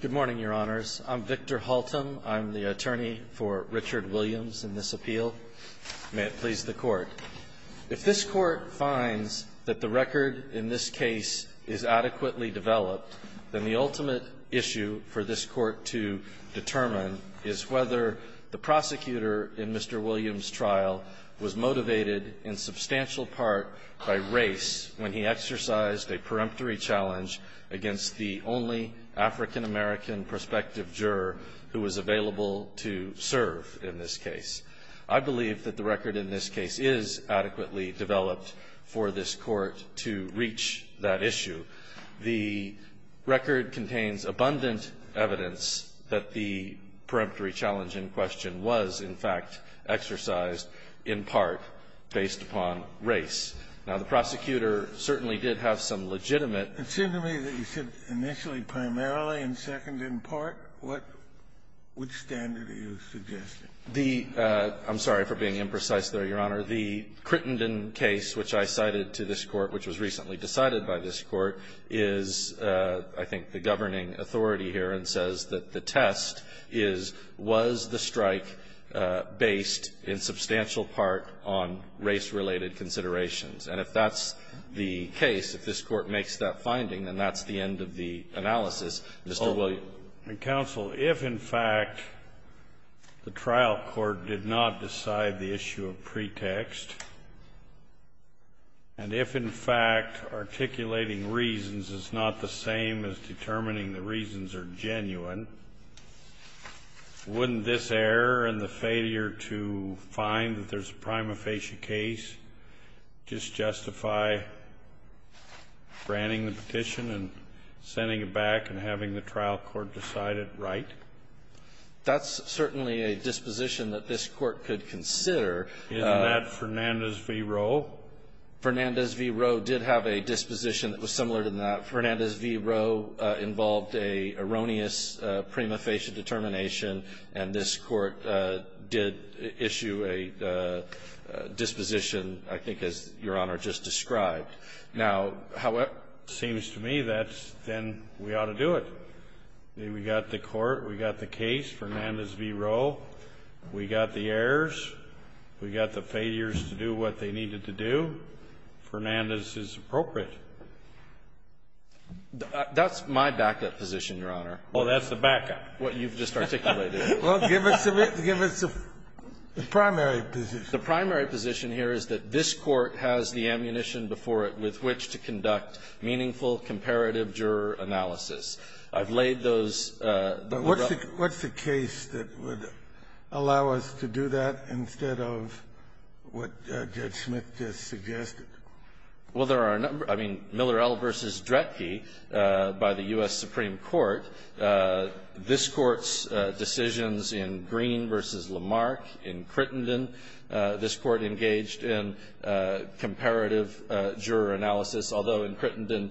Good morning, Your Honors. I'm Victor Haltom. I'm the attorney for Richard Williams in this appeal. May it please the Court. If this Court finds that the record in this case is adequately developed, then the ultimate issue for this Court to determine is whether the prosecutor in Mr. Williams' trial was motivated in substantial part by race when he exercised a peremptory challenge against the only African-American prospective juror who was available to serve in this case. I believe that the record in this case is adequately developed for this Court to reach that issue. The record contains abundant evidence that the peremptory challenge in question was, in fact, exercised in part based upon race. Now, the prosecutor certainly did have some legitimate ---- It seemed to me that you said initially primarily and second in part. What standard are you suggesting? The ---- I'm sorry for being imprecise there, Your Honor. The Crittenden case which I cited to this Court, which was recently decided by this Court, is, I think, the governing authority here and says that the test is, was the strike based in substantial part on race-related considerations? And if that's the case, if this Court makes that finding, then that's the end of the analysis. Mr. Williams. Counsel, if, in fact, the trial court did not decide the issue of pretext, and if, in fact, articulating reasons is not the same as determining the reasons are genuine, wouldn't this error and the failure to find that there's a prima facie case just justify granting the petition and sending it back and having the trial court decide it right? That's certainly a disposition that this Court could consider. Isn't that Fernandez v. Roe? Fernandez v. Roe did have a disposition that was similar to that. Fernandez v. Roe involved an erroneous prima facie determination, and this Court did issue a disposition, I think, as Your Honor just described. Now, however, it seems to me that then we ought to do it. We got the Court, we got the case, Fernandez v. Roe. We got the errors. We got the failures to do what they needed to do. Fernandez is appropriate. That's my backup position, Your Honor. Well, that's the backup. What you've just articulated. Well, give us the primary position. The primary position here is that this Court has the ammunition before it with which to conduct meaningful comparative juror analysis. I've laid those. What's the case that would allow us to do that instead of what Judge Smith just suggested? Well, there are a number. I mean, Millerell v. Dretke by the U.S. Supreme Court. This Court's decisions in Green v. Lamarck in Crittenden, this Court engaged in comparative juror analysis, although in Crittenden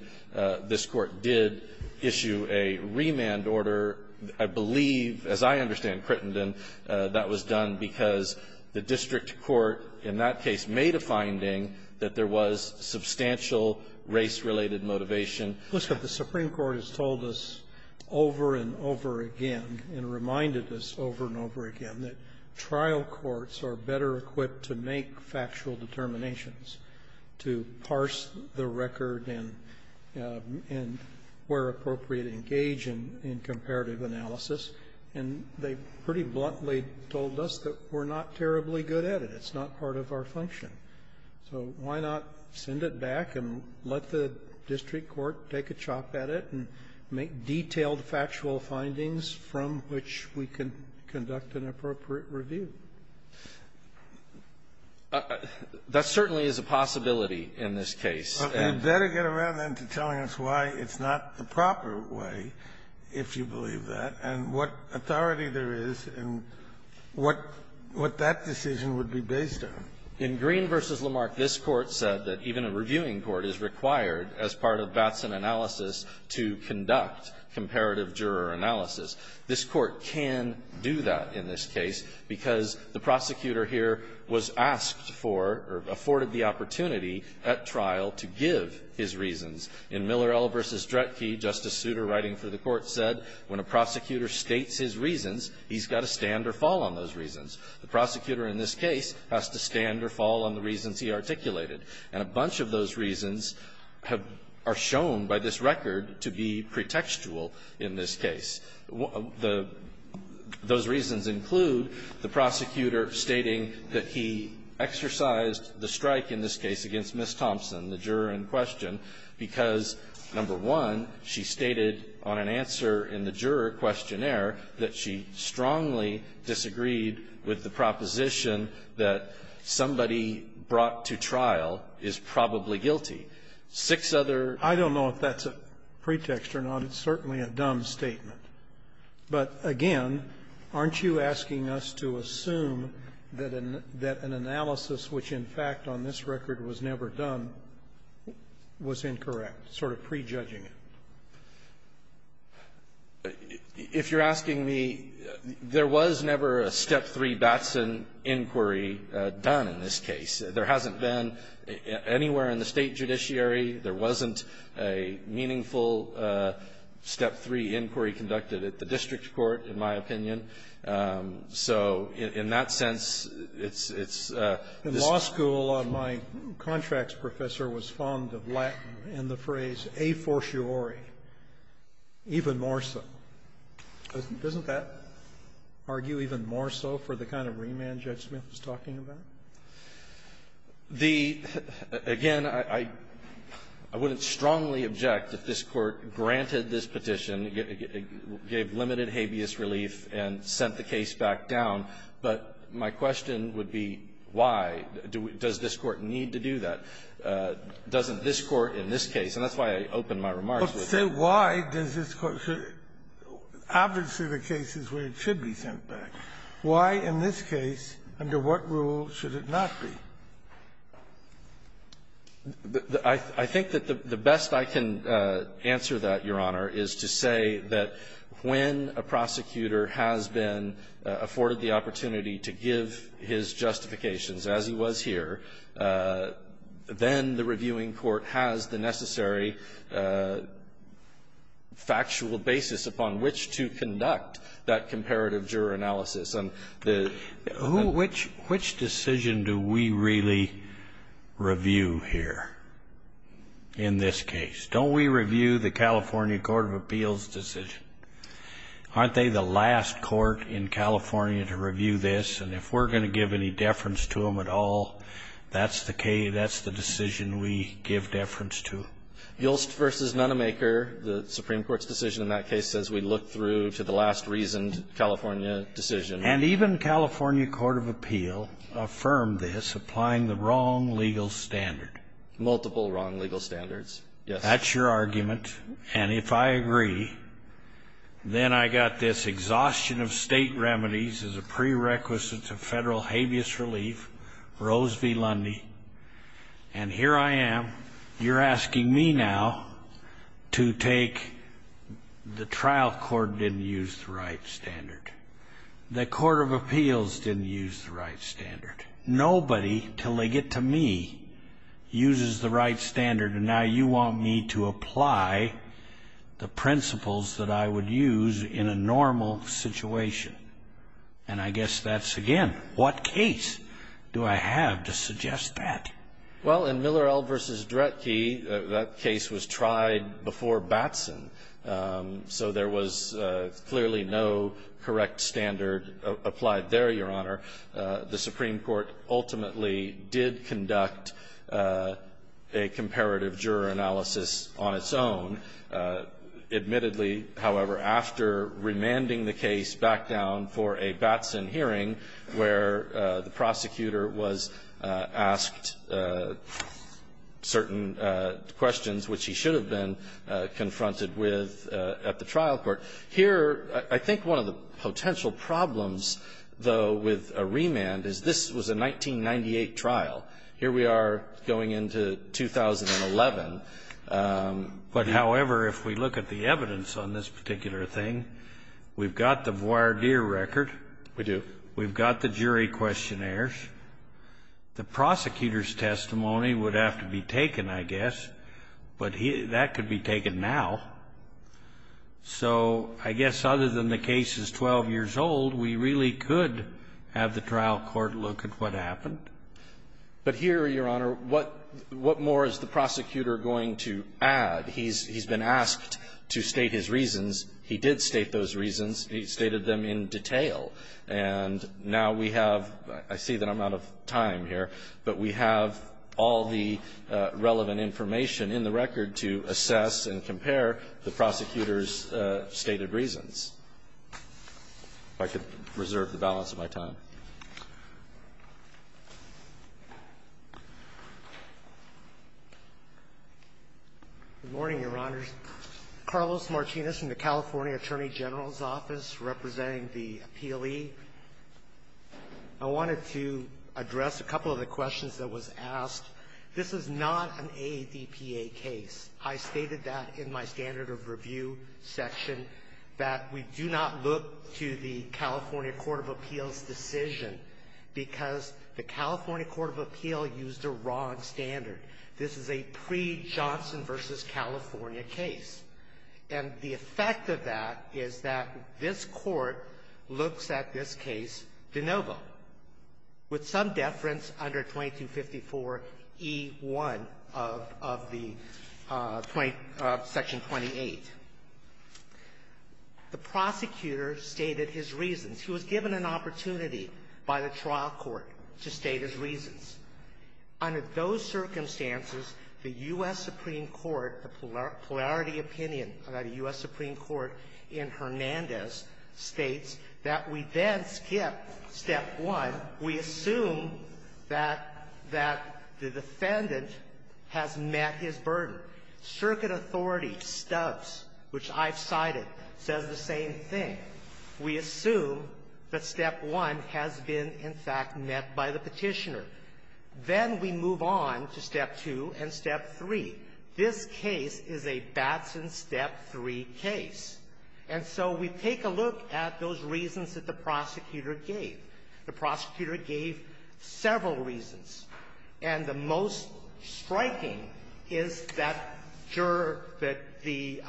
this Court did issue a remand order. I believe, as I understand Crittenden, that was done because the district court in that case made a finding that there was substantial race-related motivation. The Supreme Court has told us over and over again and reminded us over and over again that trial courts are better equipped to make factual determinations, to parse the record and where appropriate engage in comparative analysis. And they pretty bluntly told us that we're not terribly good at it. It's not part of our function. So why not send it back and let the district court take a chop at it and make detailed factual findings from which we can conduct an appropriate review? That certainly is a possibility in this case. Well, you better get around then to telling us why it's not the proper way, if you In Green v. Lamarck, this Court said that even a reviewing court is required, as part of Batson analysis, to conduct comparative juror analysis. This Court can do that in this case because the prosecutor here was asked for or afforded the opportunity at trial to give his reasons. In Miller L. v. Dretke, Justice Souter, writing for the Court, said when a prosecutor states his reasons, he's got to stand or fall on those reasons. The prosecutor in this case has to stand or fall on the reasons he articulated. And a bunch of those reasons have been shown by this record to be pretextual in this case. Those reasons include the prosecutor stating that he exercised the strike in this case against Ms. Thompson, the juror in question, because, number one, she stated on an answer in the juror questionnaire that she strongly disagreed with the proposition that somebody brought to trial is probably guilty. Six other ---- I don't know if that's a pretext or not. It's certainly a dumb statement. But, again, aren't you asking us to assume that an analysis which, in fact, on this record was never done was incorrect, sort of prejudging it? If you're asking me, there was never a Step 3 Batson inquiry done in this case. There hasn't been anywhere in the State judiciary. There wasn't a meaningful Step 3 inquiry conducted at the district court, in my opinion. So in that sense, it's ---- In law school, my contracts professor was fond of Latin and the phrase, a fortiori, even more so. Doesn't that argue even more so for the kind of remand Judge Smith was talking about? The ---- again, I wouldn't strongly object if this Court granted this petition, gave limited habeas relief, and sent the case back down. But my question would be, why? Does this Court need to do that? Doesn't this Court in this case ---- and that's why I opened my remarks with it. But say why does this Court ---- obviously, the case is where it should be sent back. Why in this case, under what rule should it not be? I think that the best I can answer that, Your Honor, is to say that when a prosecutor has been afforded the opportunity to give his justifications, as he was here, then the reviewing court has the necessary factual basis upon which to conduct that comparative juror analysis. And the ---- Who ---- which decision do we really review here in this case? Don't we review the California Court of Appeals' decision? Aren't they the last court in California to review this? And if we're going to give any deference to them at all, that's the case ---- that's the decision we give deference to. Yulst v. Nonemaker, the Supreme Court's decision in that case says we look through to the last reasoned California decision. And even California Court of Appeal affirmed this, applying the wrong legal standard. Multiple wrong legal standards, yes. That's your argument. And if I agree, then I got this exhaustion of state remedies as a prerequisite to federal habeas relief, Rose v. Lundy. And here I am. You're asking me now to take the trial court didn't use the right standard. The Court of Appeals didn't use the right standard. Nobody, till they get to me, uses the right standard. And now you want me to apply the principles that I would use in a normal situation. And I guess that's, again, what case do I have to suggest that? Well, in Miller-Eld v. Dretke, that case was tried before Batson. So there was clearly no correct standard applied there, Your Honor. The Supreme Court ultimately did conduct a comparative juror analysis on its own. Admittedly, however, after remanding the case back down for a Batson hearing, where the prosecutor was asked certain questions, which he should have been confronted with at the trial court. Here, I think one of the potential problems, though, with a remand is this was a 1998 trial. Here we are going into 2011, but however, if we look at the evidence on this particular thing, we've got the voir dire record. We do. We've got the jury questionnaires. The prosecutor's testimony would have to be taken, I guess, but that could be taken now. So I guess other than the case is 12 years old, we really could have the trial court look at what happened. But here, Your Honor, what more is the prosecutor going to add? He's been asked to state his reasons. He did state those reasons. He stated them in detail. And now we have, I see that I'm out of time here, but we have all the relevant information in the record to assess and compare the prosecutor's stated reasons. If I could reserve the balance of my time. Good morning, Your Honors. Carlos Martinez from the California Attorney General's Office, representing the appealee. I wanted to address a couple of the questions that was asked. This is not an AADPA case. I stated that in my standard of review section, that we do not look to the California Court of Appeals decision because the California Court of Appeal used the wrong standard. This is a pre-Johnson v. California case. And the effect of that is that this Court looks at this case de novo, with some deference under 2254e1 of the 20 of Section 28. The prosecutor stated his reasons. He was given an opportunity by the trial court to state his reasons. Under those circumstances, the U.S. Supreme Court, a polarity opinion about a U.S. Supreme Court in Hernandez, states that we then skip step one. We assume that the defendant has met his burden. Circuit authority, Stubbs, which I've cited, says the same thing. We assume that step one has been, in fact, met by the Petitioner. Then we move on to step two and step three. This case is a Batson step three case. And so we take a look at those reasons that the prosecutor gave. The prosecutor gave several reasons. And the most striking is that juror, that the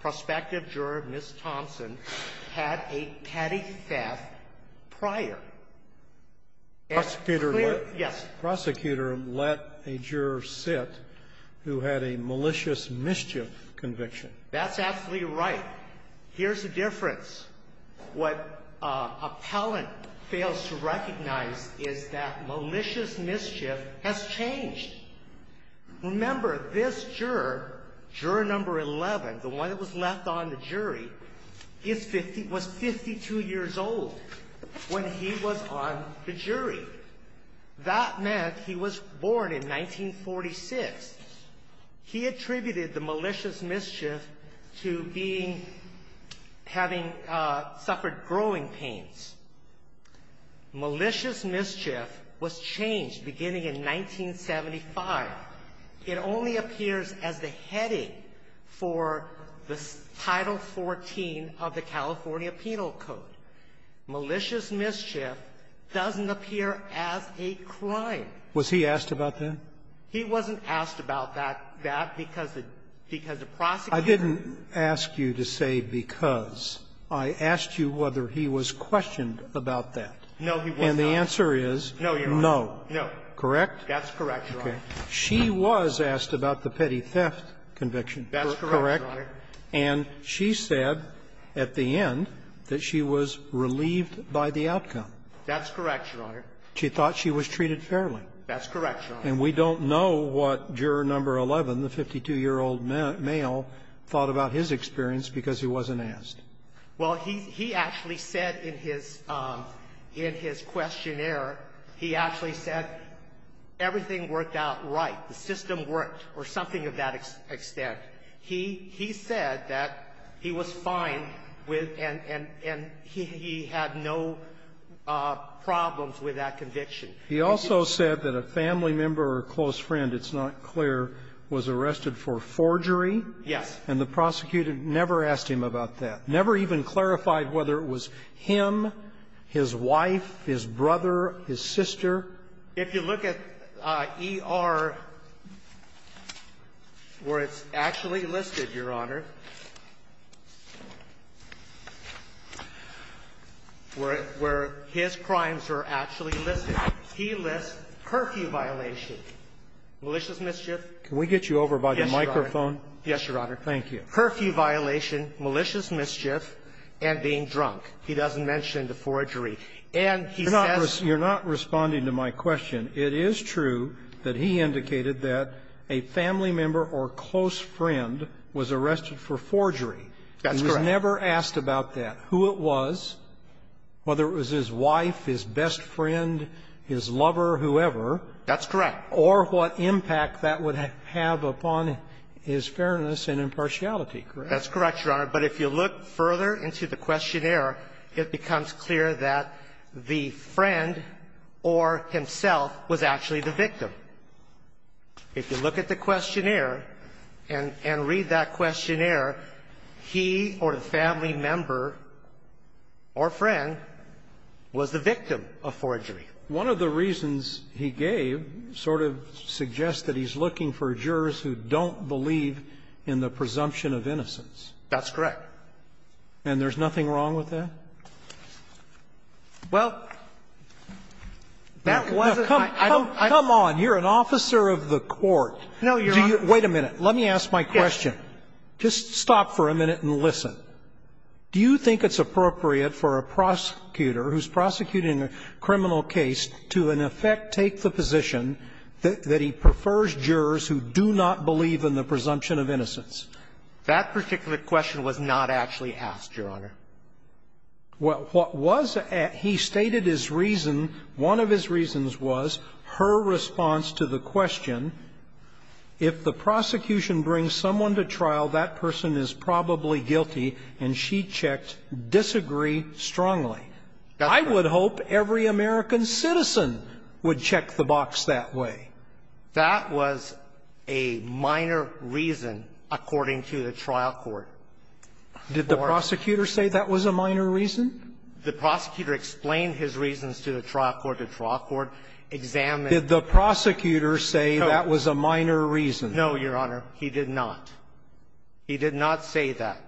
prospective juror, Ms. Thompson, had a petty theft prior. And clearly the prosecutor let a juror sit who had a malicious mischief conviction. That's absolutely right. Here's the difference. What an appellant fails to recognize is that malicious mischief has changed. Remember, this juror, juror number 11, the one that was left on the jury, is 50, was 52 years old when he was on the jury. That meant he was born in 1946. He attributed the malicious mischief to being, having suffered growing pains. Malicious mischief was changed beginning in 1975. It only appears as the heading for the Title XIV of the California Penal Code. Malicious mischief doesn't appear as a crime. Was he asked about that? He wasn't asked about that because the prosecutor ---- I didn't ask you to say because. I asked you whether he was questioned about that. No, he wasn't. And the answer is no. No. Correct? That's correct, Your Honor. She was asked about the petty theft conviction. That's correct, Your Honor. And she said at the end that she was relieved by the outcome. That's correct, Your Honor. She thought she was treated fairly. That's correct, Your Honor. And we don't know what juror number 11, the 52-year-old male, thought about his experience because he wasn't asked. Well, he actually said in his questionnaire, he actually said everything worked out right. The system worked or something of that extent. He said that he was fine with and he had no problems with that conviction. He also said that a family member or a close friend, it's not clear, was arrested for forgery. Yes. And the prosecutor never asked him about that. Never even clarified whether it was him, his wife, his brother, his sister. If you look at E.R. where it's actually listed, Your Honor, where his crimes are actually listed, he lists curfew violation, malicious mischief. Can we get you over by the microphone? Yes, Your Honor. Thank you. Curfew violation, malicious mischief, and being drunk. He doesn't mention the forgery. And he says you're not responding to my question. It is true that he indicated that a family member or close friend was arrested for forgery. That's correct. He was never asked about that, who it was, whether it was his wife, his best friend, his lover, whoever. That's correct. Or what impact that would have upon his fairness and impartiality, correct? That's correct, Your Honor. But if you look further into the questionnaire, it becomes clear that the friend or himself was actually the victim. If you look at the questionnaire and read that questionnaire, he or the family member or friend was the victim of forgery. One of the reasons he gave sort of suggests that he's looking for jurors who don't believe in the presumption of innocence. That's correct. And there's nothing wrong with that? Well, that wasn't my idea. Come on. You're an officer of the court. No, Your Honor. Wait a minute. Let me ask my question. Just stop for a minute and listen. Do you think it's appropriate for a prosecutor who's prosecuting a criminal case to, in effect, take the position that he prefers jurors who do not believe in the presumption of innocence? That particular question was not actually asked, Your Honor. Well, what was at his stated his reason, one of his reasons was her response to the question, if the prosecution brings someone to trial, that person is probably guilty, and she checked disagree strongly. I would hope every American citizen would check the box that way. That was a minor reason, according to the trial court. Did the prosecutor say that was a minor reason? The prosecutor explained his reasons to the trial court, the trial court examined Did the prosecutor say that was a minor reason? No, Your Honor. He did not. He did not say that.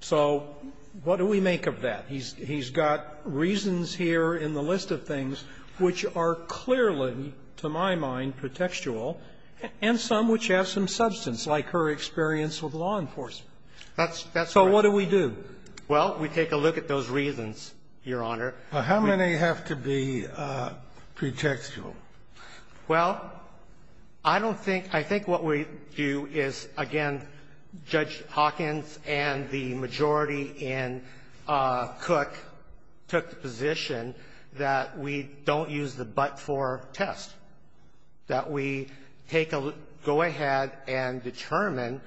So what do we make of that? He's got reasons here in the list of things which are clearly, to my mind, pretextual, and some which have some substance, like her experience with law enforcement. So what do we do? Well, we take a look at those reasons, Your Honor. How many have to be pretextual? Well, I don't think – I think what we do is, again, Judge Hawkins and the majority in Cook took the position that we don't use the but for test, that we take a look – go ahead and determine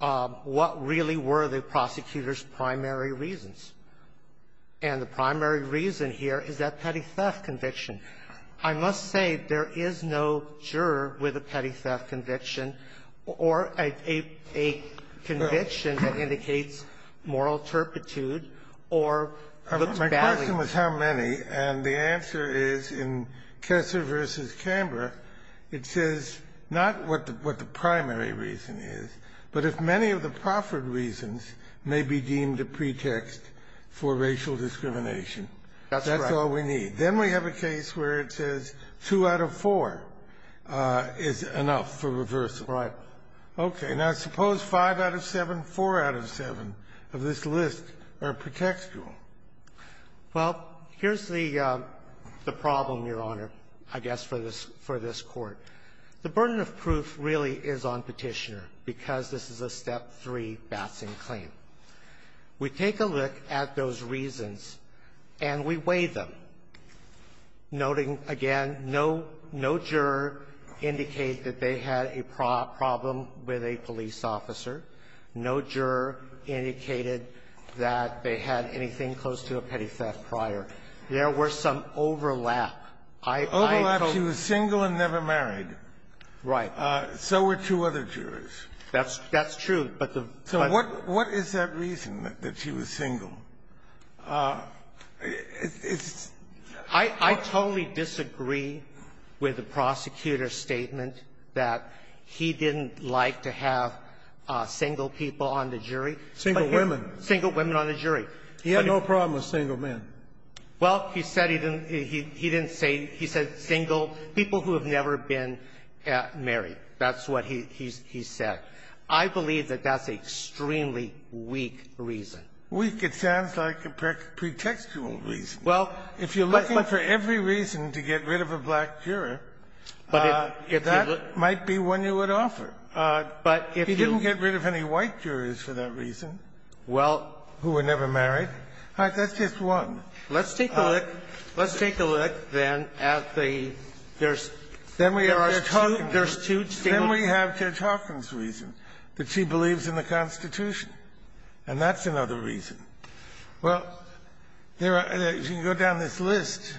what really were the prosecutor's primary reasons. And the primary reason here is that petty theft conviction. I must say there is no juror with a petty theft conviction or a conviction that indicates moral turpitude or looks badly. My question was how many, and the answer is, in Kessler v. Camber, it says not what the primary reason is, but if many of the proffered reasons may be deemed a pretext for racial discrimination. That's all we need. Then we have a case where it says 2 out of 4 is enough for reversal. Right. Okay. Now, suppose 5 out of 7, 4 out of 7 of this list are pretextual. Well, here's the problem, Your Honor, I guess for this – for this Court. The burden of proof really is on Petitioner because this is a Step 3 Batson claim. We take a look at those reasons and we weigh them, noting, again, no – no juror indicates that they had a problem with a police officer. No juror indicated that they had anything close to a petty theft prior. There were some overlap. I – I – Overlap. She was single and never married. Right. That's – that's true, but the question – So what – what is that reason that she was single? It's – I – I totally disagree with the prosecutor's statement that he didn't like to have single people on the jury. Single women. Single women on the jury. He had no problem with single men. Well, he said he didn't – he didn't say – he said single – people who have never been married. That's what he – he said. I believe that that's an extremely weak reason. Weak? It sounds like a pretextual reason. Well, but – If you're looking for every reason to get rid of a black juror, that might be one you would offer. But if you – He didn't get rid of any white jurors for that reason. Well – Who were never married. That's just one. Let's take a look. Let's take a look, then, at the – there's – there's two – there's two statements. Then we have Judge Hawkins' reason, that she believes in the Constitution. And that's another reason. Well, there are – as you can go down this list,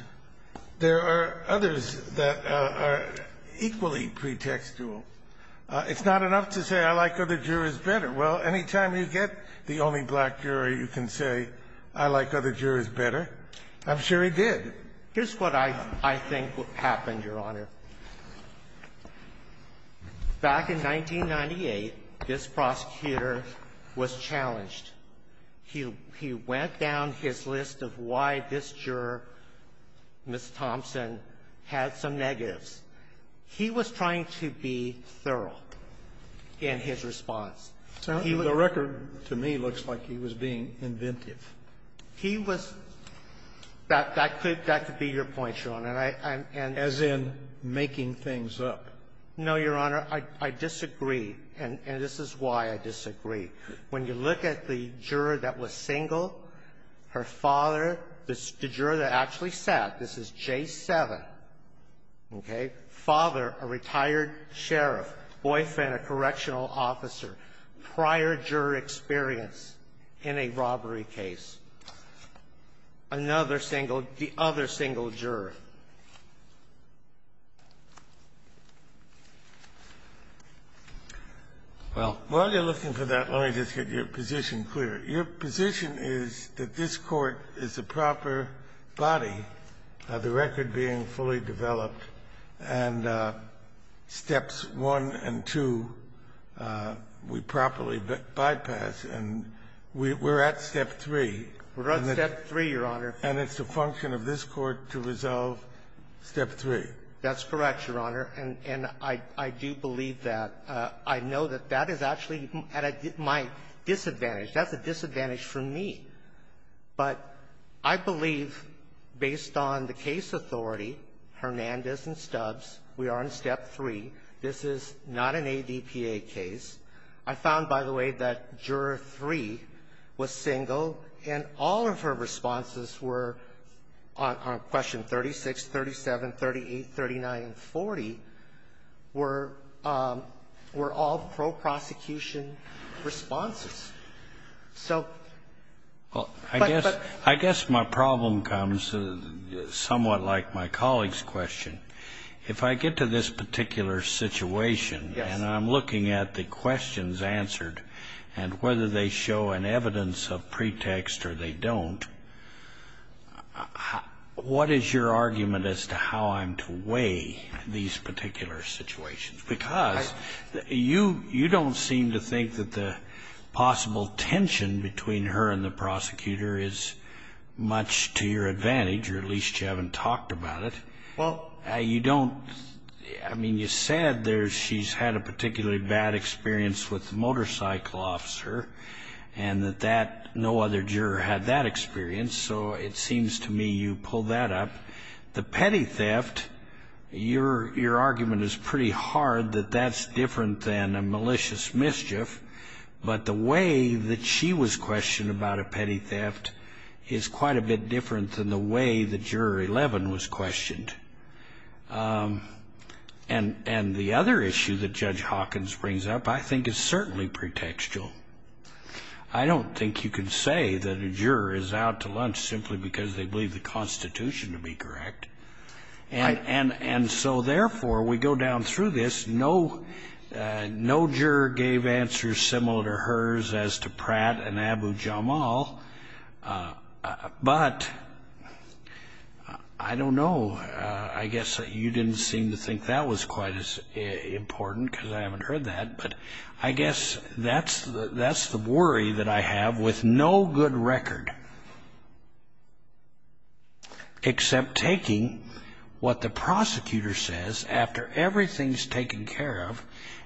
there are others that are equally pretextual. It's not enough to say, I like other jurors better. Well, any time you get the only black juror, you can say, I like other jurors better. I'm sure he did. Here's what I – I think happened, Your Honor. Back in 1998, this prosecutor was challenged. He went down his list of why this juror, Ms. Thompson, had some negatives. He was trying to be thorough in his response. He was – The record to me looks like he was being inventive. He was – that could be your point, Your Honor. And I'm – and – He was making things up. No, Your Honor. I disagree. And this is why I disagree. When you look at the juror that was single, her father, the juror that actually sat, this is J7, okay, father, a retired sheriff, boyfriend, a correctional officer, prior juror experience in a robbery case. Another single – the other single juror. Well, while you're looking for that, let me just get your position clear. Your position is that this Court is a proper body, the record being fully developed, and steps 1 and 2, we properly bypass, and we're at step 3. We're at step 3, Your Honor. And it's a function of this Court to resolve step 3. That's correct, Your Honor. And – and I – I do believe that. I know that that is actually my disadvantage. That's a disadvantage for me. But I believe, based on the case authority, Hernandez and Stubbs, we are in step 3. This is not an ADPA case. I found, by the way, that juror 3 was single, and all of her responses were on question 36, 37, 38, 39, and 40 were – were all pro-prosecution responses. So – Well, I guess – I guess my problem comes somewhat like my colleague's question. Yes. And I'm looking at the questions answered, and whether they show an evidence of pretext or they don't, what is your argument as to how I'm to weigh these particular situations? Because you – you don't seem to think that the possible tension between her and the prosecutor is much to your advantage, or at least you haven't talked about it. Well – You don't – I mean, you said there she's had a particularly bad experience with the motorcycle officer, and that that – no other juror had that experience. So it seems to me you pull that up. The petty theft, your – your argument is pretty hard that that's different than a malicious mischief. But the way that she was questioned about a petty theft is quite a bit different than the way that Juror 11 was questioned. And the other issue that Judge Hawkins brings up I think is certainly pretextual. I don't think you can say that a juror is out to lunch simply because they believe the Constitution to be correct. And so, therefore, we go down through this, no – no juror gave answers similar to hers as to Pratt and Abu Jamal. But I don't know, I guess that you didn't seem to think that was quite as important because I haven't heard that, but I guess that's – that's the worry that I have with no good record except taking what the prosecutor says after everything's taken care of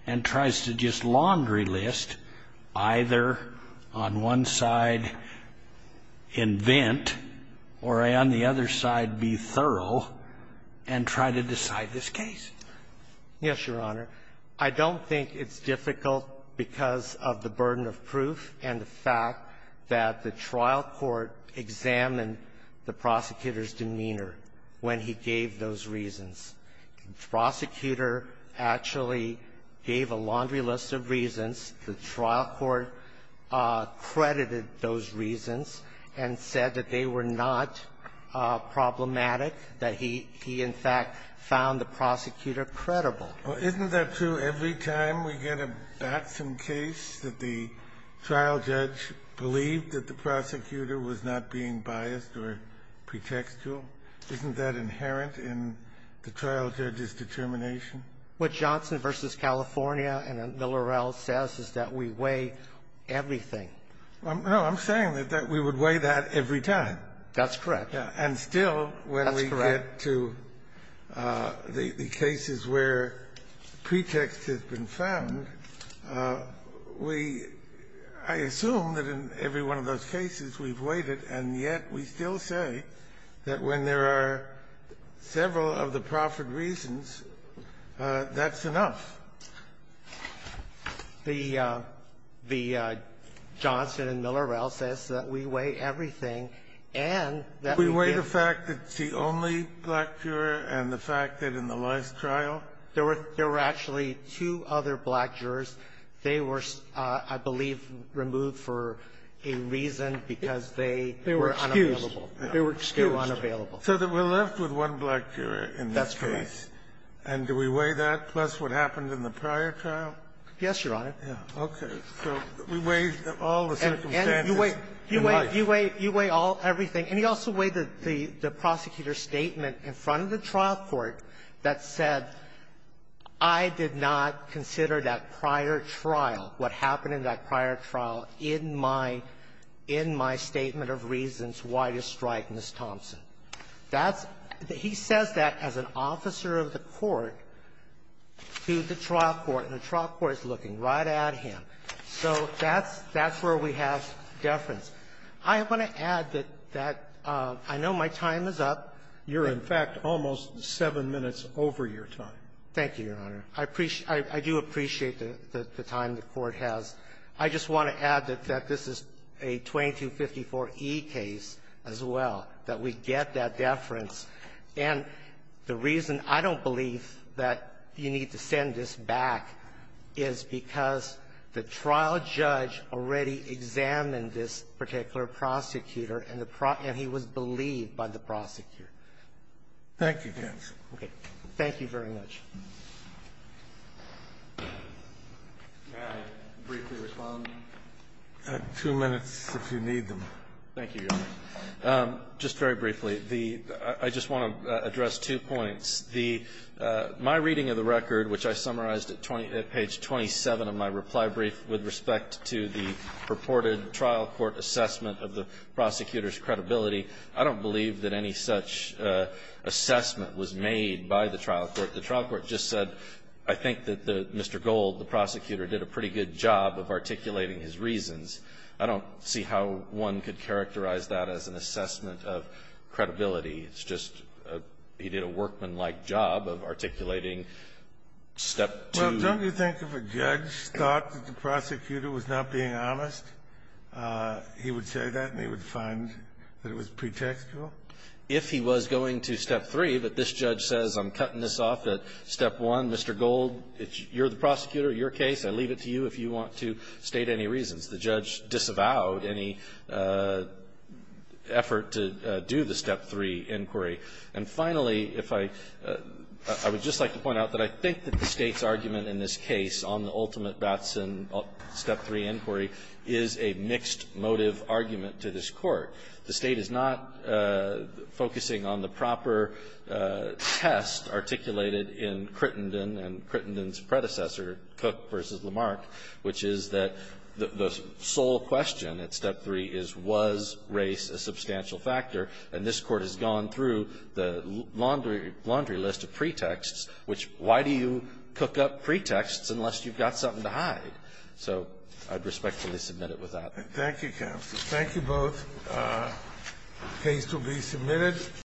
and tries to just laundry list, either on one side invent or on the other side be thorough, and try to decide this case. Yes, Your Honor. I don't think it's difficult because of the burden of proof and the fact that the trial court examined the prosecutor's demeanor when he gave those reasons. The prosecutor actually gave a laundry list of reasons. The trial court credited those reasons and said that they were not problematic, that he – he in fact found the prosecutor credible. Well, isn't that true every time we get a Batson case that the trial judge believed that the prosecutor was not being biased or pretextual? Isn't that inherent in the trial judge's determination? What Johnson v. California and Miller-Rell says is that we weigh everything. No, I'm saying that we would weigh that every time. That's correct. And still, when we get to the cases where pretext has been found, we – I assume that in every one of those cases we've weighted, and yet we still say that when there are several of the proffered reasons, that's enough. The – the Johnson and Miller-Rell says that we weigh everything, and that we give We weigh the fact that it's the only black juror and the fact that in the last trial? There were – there were actually two other black jurors. They were, I believe, removed for a reason because they were unavailable. They were excused. They were unavailable. So that we're left with one black juror in this case. That's correct. And do we weigh that plus what happened in the prior trial? Yes, Your Honor. Yeah. Okay. So we weigh all the circumstances in life. And you weigh – you weigh – you weigh all – everything. And you also weigh the – the prosecutor's statement in front of the trial court that said, I did not consider that prior trial, what happened in that prior trial, in my – in my statement of reasons why to strike Ms. Thompson. That's – he says that as an officer of the court to the trial court. And the trial court is looking right at him. So that's – that's where we have deference. I want to add that that – I know my time is up. You're, in fact, almost seven minutes over your time. Thank you, Your Honor. I appreciate – I do appreciate the time the Court has. I just want to add that this is a 2254e case as well, that we get that deference. And the reason I don't believe that you need to send this back is because the trial judge already examined this particular prosecutor and the – and he was believed by the prosecutor. Thank you, Judge. Okay. Thank you very much. May I briefly respond? Two minutes, if you need them. Thank you, Your Honor. Just very briefly, the – I just want to address two points. The – my reading of the record, which I summarized at 20 – at page 27 of my reply brief with respect to the purported trial court assessment of the prosecutor's credibility, I don't believe that any such assessment was made by the trial court. The trial court just said, I think that the – Mr. Gold, the prosecutor, did a pretty good job of articulating his reasons. I don't see how one could characterize that as an assessment of credibility. It's just a – he did a workmanlike job of articulating step two. Well, don't you think if a judge thought that the prosecutor was not being honest, he would say that and he would find that it was pretextual? If he was going to step three, but this judge says, I'm cutting this off at step one, Mr. Gold, you're the prosecutor, your case. I leave it to you if you want to state any reasons. The judge disavowed any effort to do the step three inquiry. And finally, if I – I would just like to point out that I think that the State's argument in this case on the ultimate Batson step three inquiry is a mixed motive argument to this Court. The State is not focusing on the proper test articulated in Crittenden and Crittenden's predecessor, Cook v. Lamarck, which is that the sole question at step three is was race a substantial factor, and this Court has gone through the laundry list of pretexts, which why do you cook up pretexts unless you've got something to hide? So I'd respectfully submit it with that. Thank you, counsel. Thank you both. The case will be submitted.